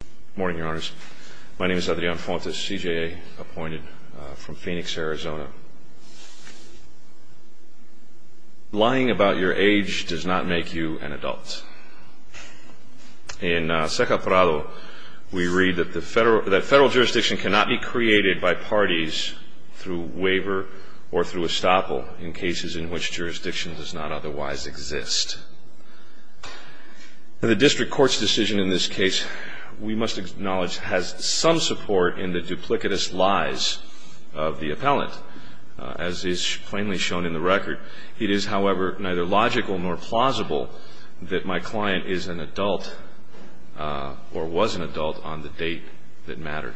Good morning, your honors. My name is Adrian Fontes, CJA, appointed from Phoenix, Arizona. Lying about your age does not make you an adult. In Seca Prado, we read that federal jurisdiction cannot be created by parties through waiver or through estoppel in cases in which jurisdiction does not otherwise exist. The district court's decision in this case, we must acknowledge, has some support in the duplicitous lies of the appellant, as is plainly shown in the record. It is, however, neither logical nor plausible that my client is an adult or was an adult on the date that mattered.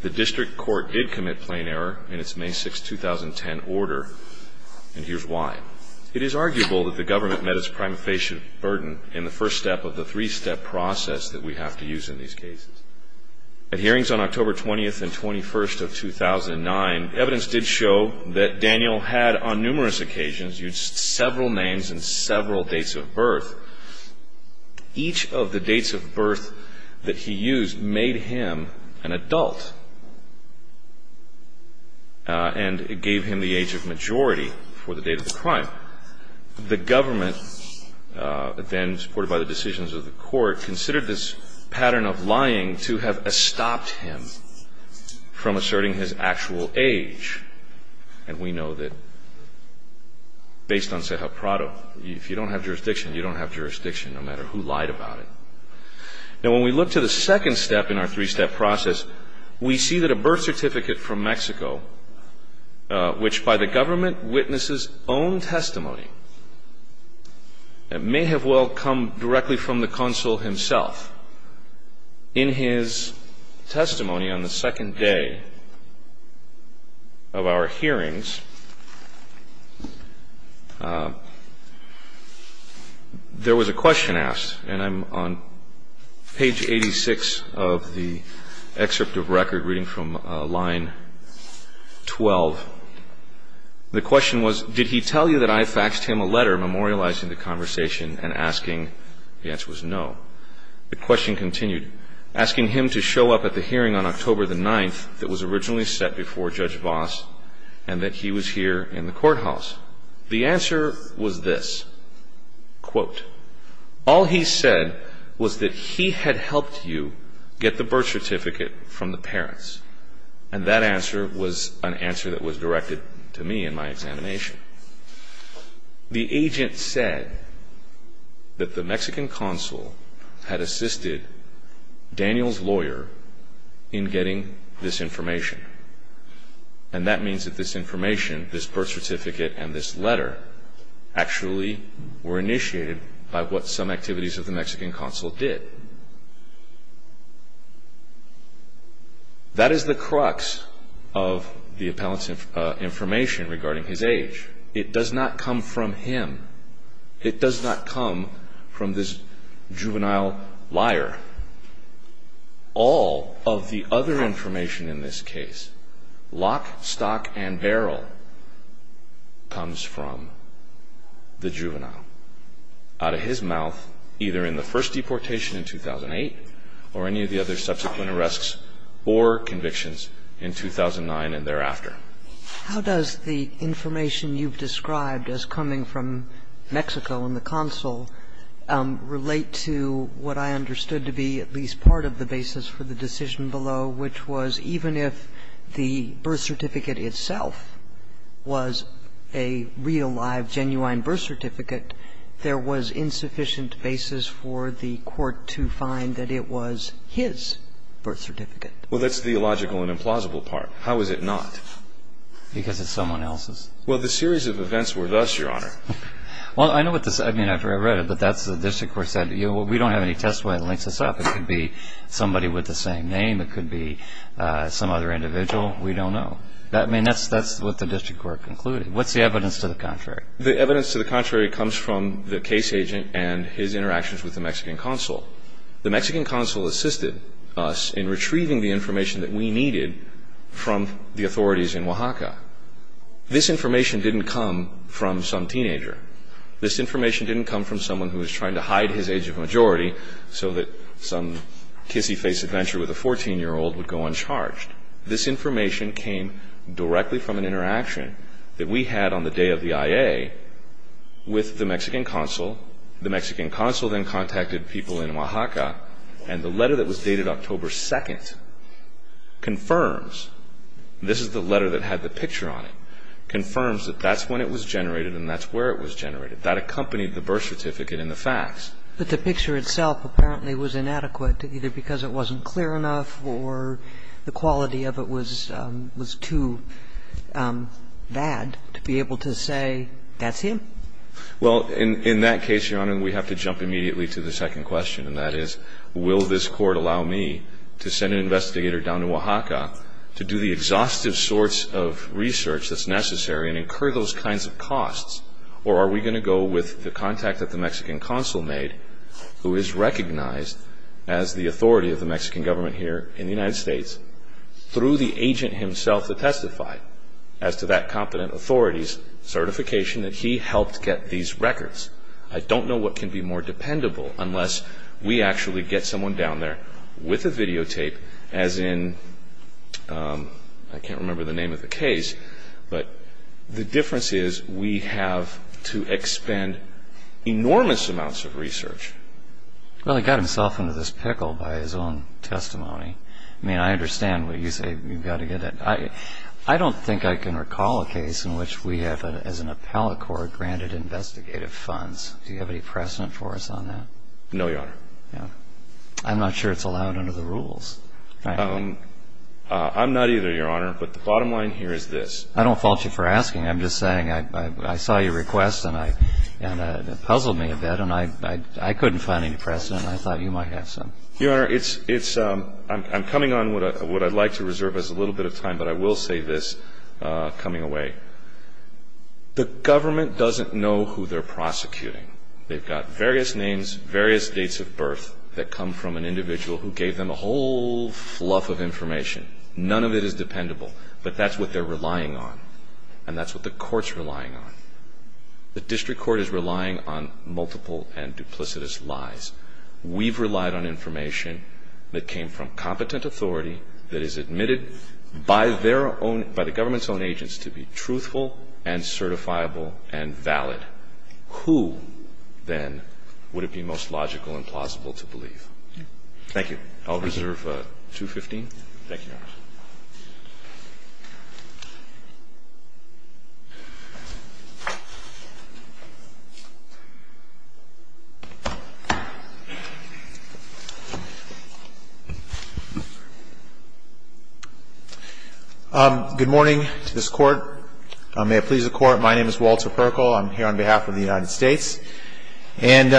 The district court did commit plain error in its May 6, 2010, order, and here's why. It is arguable that the government met its prima facie burden in the first step of the three-step process that we have to use in these cases. At hearings on October 20th and 21st of 2009, evidence did show that Daniel had, on numerous occasions, used several names and several dates of birth. Each of the dates of birth that he used made him an adult and gave him the age of majority for the date of the crime. The government, then supported by the decisions of the court, considered this pattern of lying to have estopped him from asserting his actual age. And we know that based on Seca Prado, if you don't have jurisdiction, you don't have jurisdiction no matter who lied about it. Now, when we look to the second step in our three-step process, we see that a birth which by the government witnesses own testimony that may have well come directly from the consul himself, in his testimony on the second day of our hearings, there was a question asked, and I'm on page 86 of the excerpt of record reading from line 12. The question was, did he tell you that I faxed him a letter memorializing the conversation and asking? The answer was no. The question continued, asking him to show up at the hearing on October the 9th that was originally set before Judge Voss and that he was here in the courthouse. The answer was this, quote, all he said was that he had helped you get the birth certificate from the parents. And that answer was an answer that was directed to me in my examination. The agent said that the Mexican consul had assisted Daniel's lawyer in getting this information. And that means that this information, this birth certificate and this letter, actually were his. That is the crux of the appellant's information regarding his age. It does not come from him. It does not come from this juvenile liar. All of the other information in this case, lock, stock, and barrel, comes from the juvenile. Out of his mouth, either in the first deportation in 2008 or any of the other subsequent arrests or convictions in 2009 and thereafter. Kagan. How does the information you've described as coming from Mexico and the consul relate to what I understood to be at least part of the basis for the decision below, which was even if the birth certificate itself was a real, live, genuine birth certificate, there was insufficient basis for the court to find that it was his birth certificate? Well, that's the illogical and implausible part. How is it not? Because it's someone else's. Well, the series of events were thus, Your Honor. Well, I know what this — I mean, after I read it, but that's the district court said, you know, we don't have any testimony that links this up. It could be somebody with the same name. It could be some other individual. We don't know. I mean, that's what the district court concluded. What's the evidence to the contrary? The evidence to the contrary comes from the case agent and his interactions with the Mexican consul. The Mexican consul assisted us in retrieving the information that we needed from the authorities in Oaxaca. This information didn't come from some teenager. This information didn't come from someone who was trying to hide his age of majority so that some kissy-face adventure with a 14-year-old would go uncharged. This information came directly from an interaction that we had on the day of the IA with the Mexican consul. The Mexican consul then contacted people in Oaxaca, and the letter that was dated October 2nd confirms — this is the letter that had the picture on it — confirms that that's when it was generated and that's where it was generated. That accompanied the birth certificate and the facts. But the picture itself apparently was inadequate, either because it wasn't clear enough or the quality of it was too bad to be able to say, that's him? Well, in that case, Your Honor, we have to jump immediately to the second question, and that is, will this court allow me to send an investigator down to Oaxaca to do the exhaustive sorts of research that's necessary and incur those kinds of costs, or are we going to go with the contact that the Mexican consul made, who is recognized as the authority of the Mexican government here in the United States, through the agent himself to testify as to that competent authority's certification that he helped get these records? I don't know what can be more dependable unless we actually get someone down there with a videotape, as in — I can't remember the name of the case, but the difference is we have to expend enormous amounts of research. Well, he got himself into this pickle by his own testimony. I mean, I understand what you say, you've got to get that — I don't think I can recall a case in which we have, as an appellate court, granted investigative funds. Do you have any precedent for us on that? No, Your Honor. I'm not sure it's allowed under the rules. I'm not either, Your Honor, but the bottom line here is this — I don't fault you for asking, I'm just saying I saw your request and it couldn't find any precedent. I thought you might have some. Your Honor, it's — I'm coming on what I'd like to reserve as a little bit of time, but I will say this coming away. The government doesn't know who they're prosecuting. They've got various names, various dates of birth that come from an individual who gave them a whole fluff of information. None of it is dependable. But that's what they're relying on. And that's what the court's relying on. The district court is relying on multiple and duplicitous lies. We've relied on information that came from competent authority that is admitted by their own — by the government's own agents to be truthful and certifiable and valid. Who, then, would it be most logical and plausible to believe? Thank you. Thank you, Your Honor. Good morning to this Court. May it please the Court. My name is Walter Perkle. I'm here on behalf of the United States. And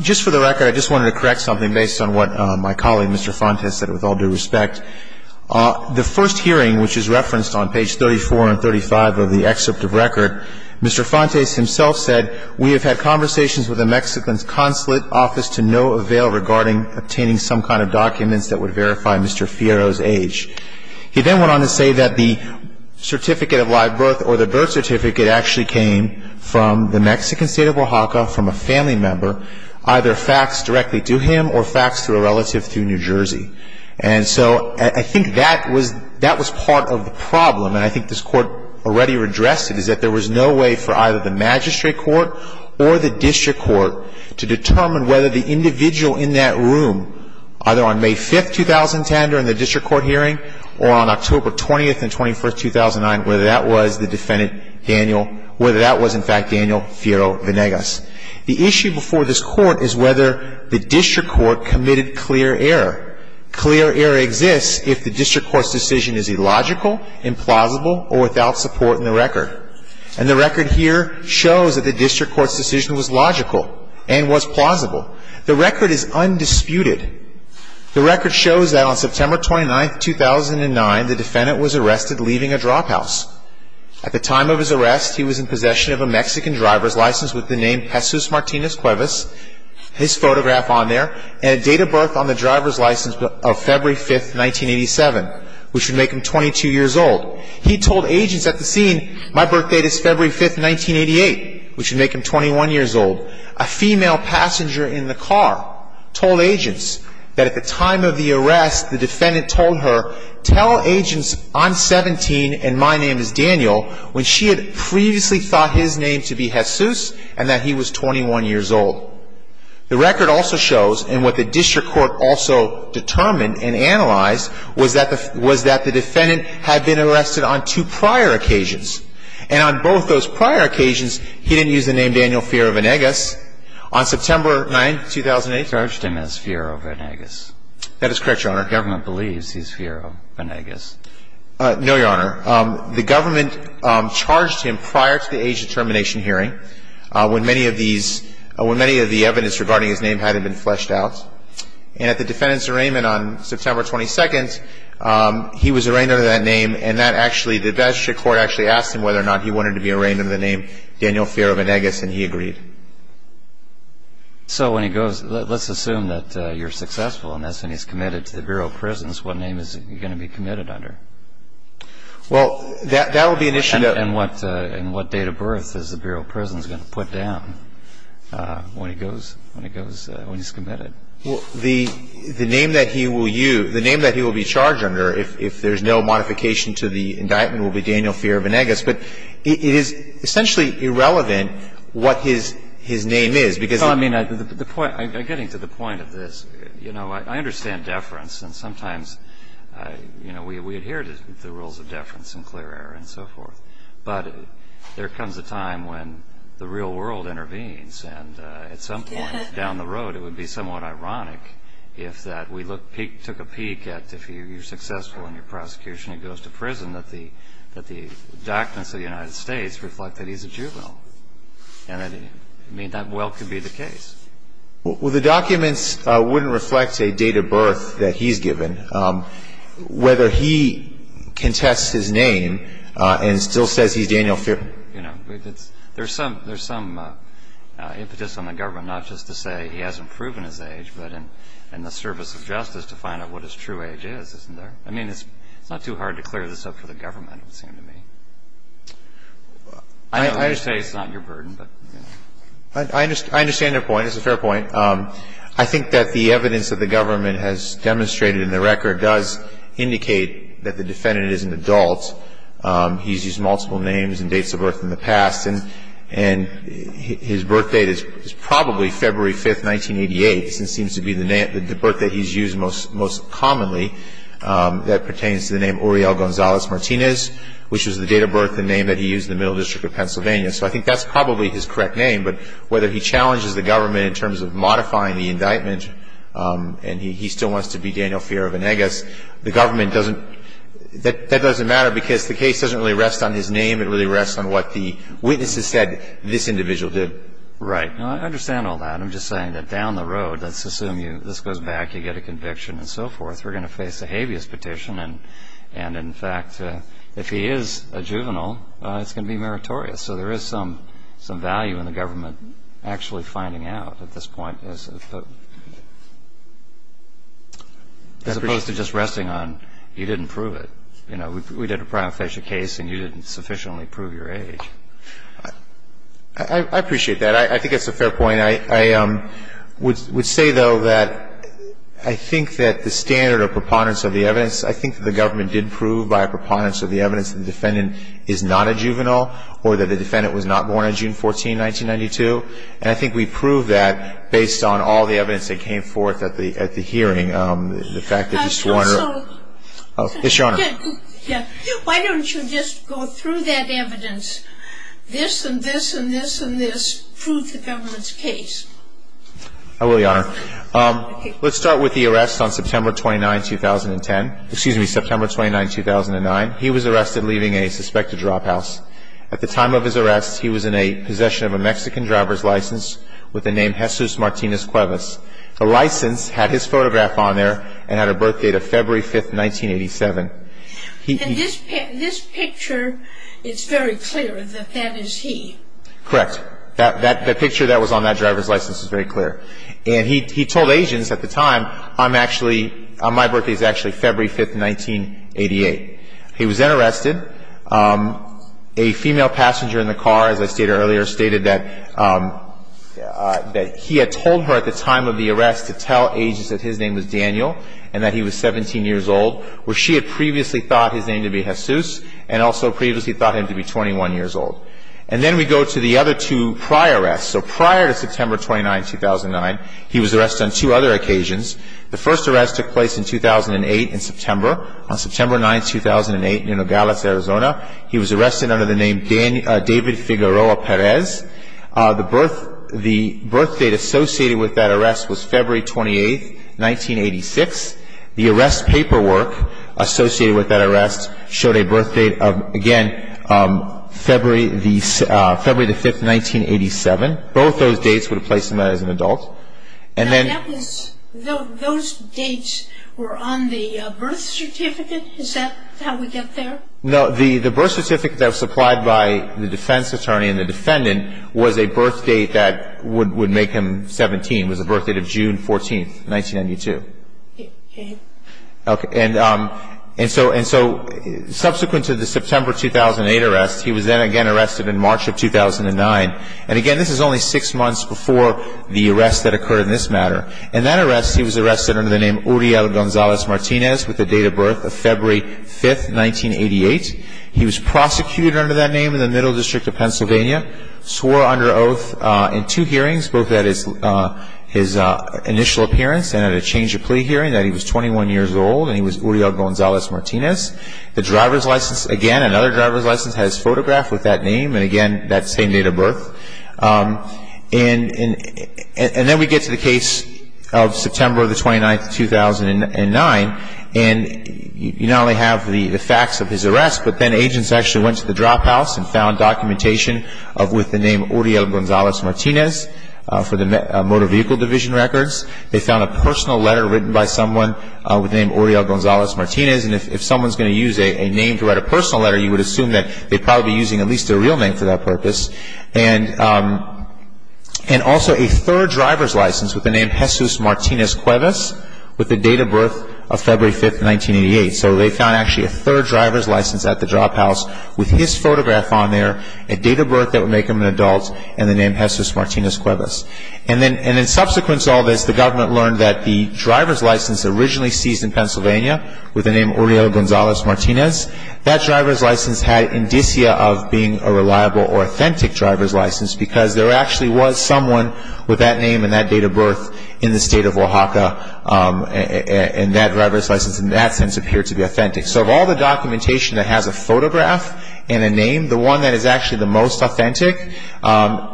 just for the record, I just wanted to correct something based on what my colleague, Mr. Fontes, said with all due respect. The first hearing, which is referenced on page 34 and 35 of the excerpt of record, Mr. Fontes himself said, We have had conversations with the Mexican consulate office to no avail regarding obtaining some kind of documents that would verify Mr. Fierro's age. He then went on to say that the certificate of live birth or the birth certificate actually came from the Mexican state of Oaxaca from a family member, either faxed directly to him or faxed through a relative through New Jersey. And so I think that was part of the problem. And I think this Court already addressed it, is that there was no way for either the magistrate court or the district court to determine whether the individual in that room, either on May 5, 2010, during the district court hearing, or on October 20 and 21, 2009, whether that was the defendant, Daniel, whether that was, in fact, Daniel Fierro-Venegas. The issue before this Court is whether the district court committed clear error. Clear error exists if the district court's decision is illogical, implausible, or without support in the record. And the record here shows that the district court's decision was logical and was plausible. The record is undisputed. The record shows that on September 29, 2009, the defendant was arrested leaving a drop house. At the time of his arrest, he was in possession of a Mexican driver's license with the name Jesus Martinez Cuevas, his photograph on there, and a date of birth on the driver's license of February 5, 1987, which would make him 22 years old. He told agents at the scene, my birthday is February 5, 1988, which would make him 21 years old. A female passenger in the car told agents that at the time of the arrest, the defendant told her, tell agents I'm 17 and my name is Daniel. When she had previously thought his name to be Jesus and that he was 21 years old. The record also shows, and what the district court also determined and analyzed, was that the defendant had been arrested on two prior occasions. And on both those prior occasions, he didn't use the name Daniel Fiora-Vanegas. On September 9, 2008. He charged him as Fiora-Vanegas. That is correct, Your Honor. The government believes he's Fiora-Vanegas. No, Your Honor. The government charged him prior to the age determination hearing when many of these, when many of the evidence regarding his name hadn't been fleshed out. And at the defendant's arraignment on September 22, he was arraigned under that name and that actually, the district court actually asked him whether or not he wanted to be arraigned under the name Daniel Fiora-Vanegas and he agreed. So when he goes, let's assume that you're successful in this and he's committed to the Bureau of Prisons, what name is he going to be committed under? Well, that will be an issue that And what date of birth is the Bureau of Prisons going to put down when he goes, when he's committed? Well, the name that he will use, the name that he will be charged under, if there's no modification to the indictment, will be Daniel Fiora-Vanegas. But it is essentially irrelevant what his name is because I mean, the point, getting to the point of this, you know, I understand deference and sometimes, you know, we adhere to the rules of deference and clear air and so forth. But there comes a time when the real world intervenes and at some point down the road it would be somewhat ironic if that we look, took a peek at if you're successful in your prosecution and goes to prison, that the documents of the United States reflect that he's a juvenile. And I mean, that well could be the case. Well, the documents wouldn't reflect a date of birth that he's given. Whether he contests his name and still says he's Daniel Fiora-Vanegas. You know, there's some impetus on the government not just to say he hasn't proven his age, but in the service of justice to find out what his true age is, isn't there? I mean, it's not too hard to clear this up for the government, it would seem to me. I understand it's not your burden, but you know. I understand your point. It's a fair point. I think that the evidence that the government has demonstrated in the record does indicate that the defendant is an adult. He's used multiple names and dates of birth in the past. And his birth date is probably February 5th, 1988. It seems to be the birth date he's used most commonly that pertains to the name Uriel Gonzalez-Martinez, which is the date of birth and name that he used in the Middle District of Pennsylvania. So I think that's probably his correct name. But whether he challenges the government in terms of modifying the indictment and he still wants to be Daniel Fiora-Vanegas, the government doesn't, that doesn't matter because the case doesn't really rest on his name. It really rests on what the witnesses said this individual did. Right. I understand all that. I'm just saying that down the road, let's assume this goes back, you get a conviction and so forth. We're going to face a habeas petition. And in fact, if he is a juvenile, it's going to be meritorious. So there is some value in the government actually finding out at this point as opposed to just resting on, you didn't prove it. You know, we did a prima facie case and you didn't sufficiently prove your age. I appreciate that. I think that's a fair point. I would say, though, that I think that the standard or preponderance of the evidence, I think the government did prove by preponderance of the evidence the defendant is not a juvenile or that the defendant was not born on June 14, 1992. And I think we proved that based on all the evidence that came forth at the hearing. The fact that you swore an oath. Yes, Your Honor. Why don't you just go through that evidence, this and this and this and this, prove the government's case. I will, Your Honor. Let's start with the arrest on September 29, 2010. Excuse me, September 29, 2009. He was arrested leaving a suspected drop house. At the time of his arrest, he was in a possession of a Mexican driver's license with the name Jesus Martinez Cuevas. The license had his photograph on there and had a birth date of February 5, 1987. And this picture, it's very clear that that is he. Correct. That picture that was on that driver's license is very clear. And he told agents at the time, I'm actually, my birthday is actually February 5, 1988. He was then arrested. A female passenger in the car, as I stated earlier, stated that he had told her at the time of the arrest to tell agents that his name was Daniel and that he was 17 years old, where she had previously thought his name to be Jesus and also previously thought him to be 21 years old. And then we go to the other two prior arrests. So prior to September 29, 2009, he was arrested on two other occasions. The first arrest took place in 2008, in September. On September 9, 2008, in Nogales, Arizona, he was arrested under the name David Figueroa Perez. The birth date associated with that arrest was February 28, 1986. The arrest paperwork associated with that arrest showed a birth date of, again, February the 5th, 1987. Both those dates would have placed him as an adult. And then those dates were on the birth certificate? Is that how we get there? No, the birth certificate that was supplied by the defense attorney and the defendant was a birth date that would make him 17. It was the birth date of June 14, 1992. Okay, and so subsequent to the September 2008 arrest, he was then again arrested in March of 2009. And again, this is only six months before the arrest that occurred in this matter. In that arrest, he was arrested under the name Uriel Gonzalez Martinez with a date of birth of February 5, 1988. He was prosecuted under that name in the Middle District of Pennsylvania, swore under oath in two hearings, both at his initial appearance and at a change of plea hearing, that he was 21 years old and he was Uriel Gonzalez Martinez. The driver's license, again, another driver's license has his photograph with that name. And again, that same date of birth. And then we get to the case of September the 29th, 2009. And you not only have the facts of his arrest, but then agents actually went to the drop house and found documentation with the name Uriel Gonzalez Martinez for the motor vehicle division records. They found a personal letter written by someone with the name Uriel Gonzalez Martinez. And if someone's going to use a name to write a personal letter, you would assume that they'd probably be using at least a real name for that purpose. And also a third driver's license with the name Jesus Martinez Cuevas with the date of birth of February 5, 1988. So they found actually a third driver's license at the drop house with his photograph on there, a date of birth that would make him an adult, and the name Jesus Martinez Cuevas. And then in subsequent to all this, the government learned that the driver's license originally seized in Pennsylvania with the name Uriel Gonzalez Martinez. That driver's license had indicia of being a reliable or authentic driver's license because there actually was someone with that name and that date of birth in the state of Oaxaca. And that driver's license in that sense appeared to be authentic. So of all the documentation that has a photograph and a name, the one that is actually the most authentic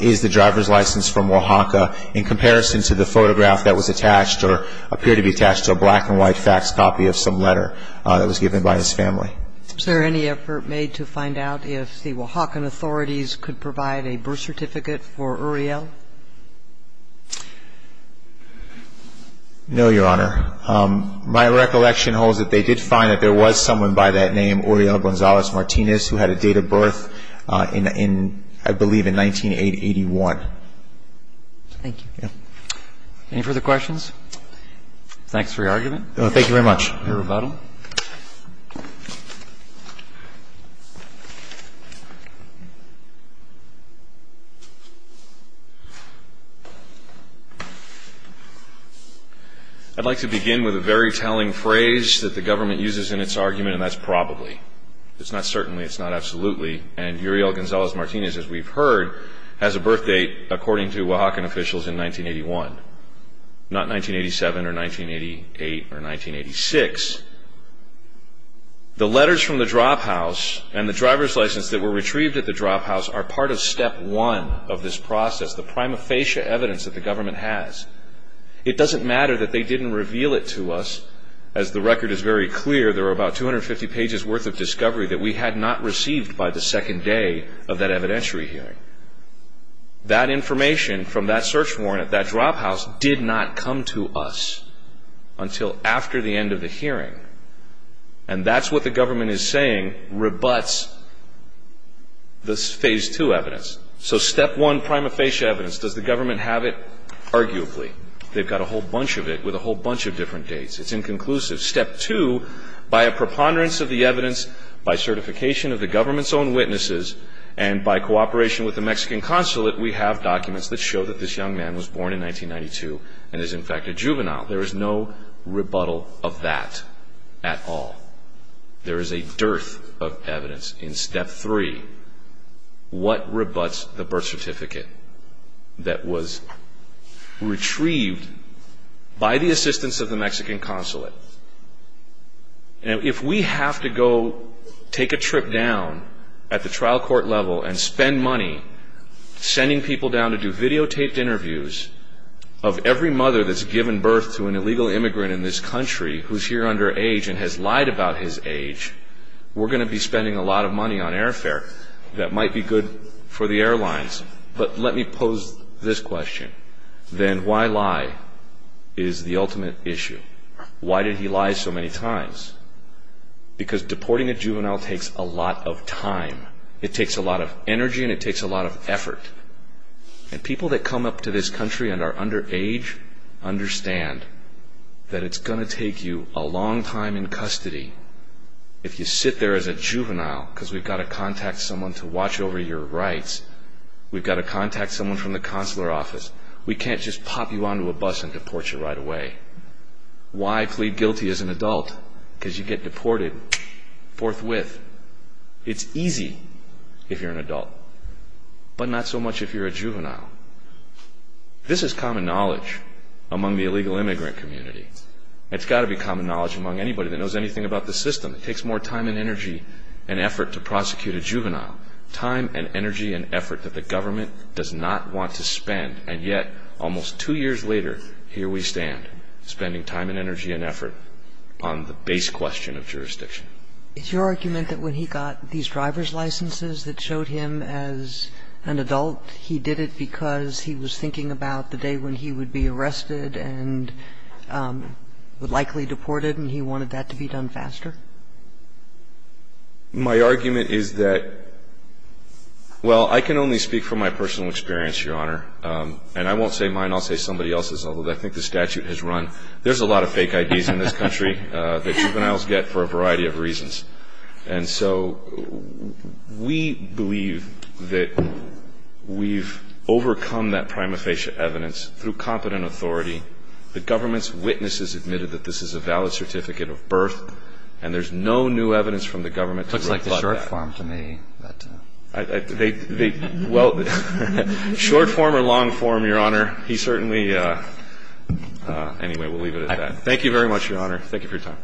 is the driver's license from Oaxaca in comparison to the photograph that was attached or appeared to be attached to a black and white fax copy of some letter that was given by his family. Is there any effort made to find out if the Oaxacan authorities could provide a birth certificate for Uriel? No, Your Honor. My recollection holds that they did find that there was someone by that name, Uriel Gonzalez Martinez, who had a date of birth in, I believe, in 19881. Thank you. Any further questions? Thanks for your argument. Thank you very much. Your rebuttal. I'd like to begin with a very telling phrase that the government uses in its argument, and that's probably. It's not certainly. It's not absolutely. And Uriel Gonzalez Martinez, as we've heard, has a birth date, according to Oaxacan officials, in 1981. Not 1987 or 1988 or 1986. The letters from the drop house and the driver's license that were retrieved at the drop house are part of step one of this process, the prima facie evidence that the government has. It doesn't matter that they didn't reveal it to us, as the record is very clear. There are about 250 pages worth of discovery that we had not received by the second day of that evidentiary hearing. That information from that search warrant at that drop house did not come to us until after the end of the hearing. And that's what the government is saying rebuts this phase two evidence. So step one, prima facie evidence. Does the government have it? Arguably. They've got a whole bunch of it with a whole bunch of different dates. It's inconclusive. Step two, by a preponderance of the evidence, by certification of the government's own witnesses, and by cooperation with the Mexican consulate, we have documents that show that this young man was born in 1992 and is, in fact, a juvenile. There is no rebuttal of that at all. There is a dearth of evidence. In step three, what rebuts the birth certificate that was retrieved by the assistance of the Mexican consulate? Now, if we have to go take a trip down at the trial court level and spend money sending people down to do videotaped interviews of every mother that's given birth to an illegal immigrant in this country who's here underage and has lied about his age, we're going to be spending a lot of money on airfare that might be good for the airlines. But let me pose this question. Then why lie is the ultimate issue? Why did he lie so many times? Because deporting a juvenile takes a lot of time. It takes a lot of energy and it takes a lot of effort. And people that come up to this country and are underage understand that it's going to take you a long time in custody if you sit there as a juvenile because we've got to contact someone to watch over your rights. We've got to contact someone from the consular office. We can't just pop you onto a bus and deport you right away. Why plead guilty as an adult? Because you get deported forthwith. It's easy if you're an adult, but not so much if you're a juvenile. This is common knowledge among the illegal immigrant community. It's got to be common knowledge among anybody that knows anything about the system. It's your argument that when he got these driver's licenses that showed him as an adult, he did it because he was thinking about the day when he would be arrested and would likely be deported and he wanted that to be done faster? My argument is that, well, I can only speak from my personal experience, Your Honor, and I won't say mine. I'll say somebody else's, although I think the statute has run. There's a lot of fake IDs in this country that juveniles get for a variety of reasons. And so we believe that we've overcome that prima facie evidence through competent authority. The government's witnesses admitted that this is a valid certificate of birth, and there's no new evidence from the government to rebut that. It looks like the short form to me. Well, short form or long form, Your Honor, he certainly – anyway, we'll leave it at that. Thank you very much, Your Honor. Thank you for your time.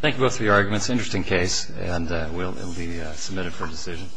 Thank you both for your arguments. Interesting case, and it will be submitted for decision.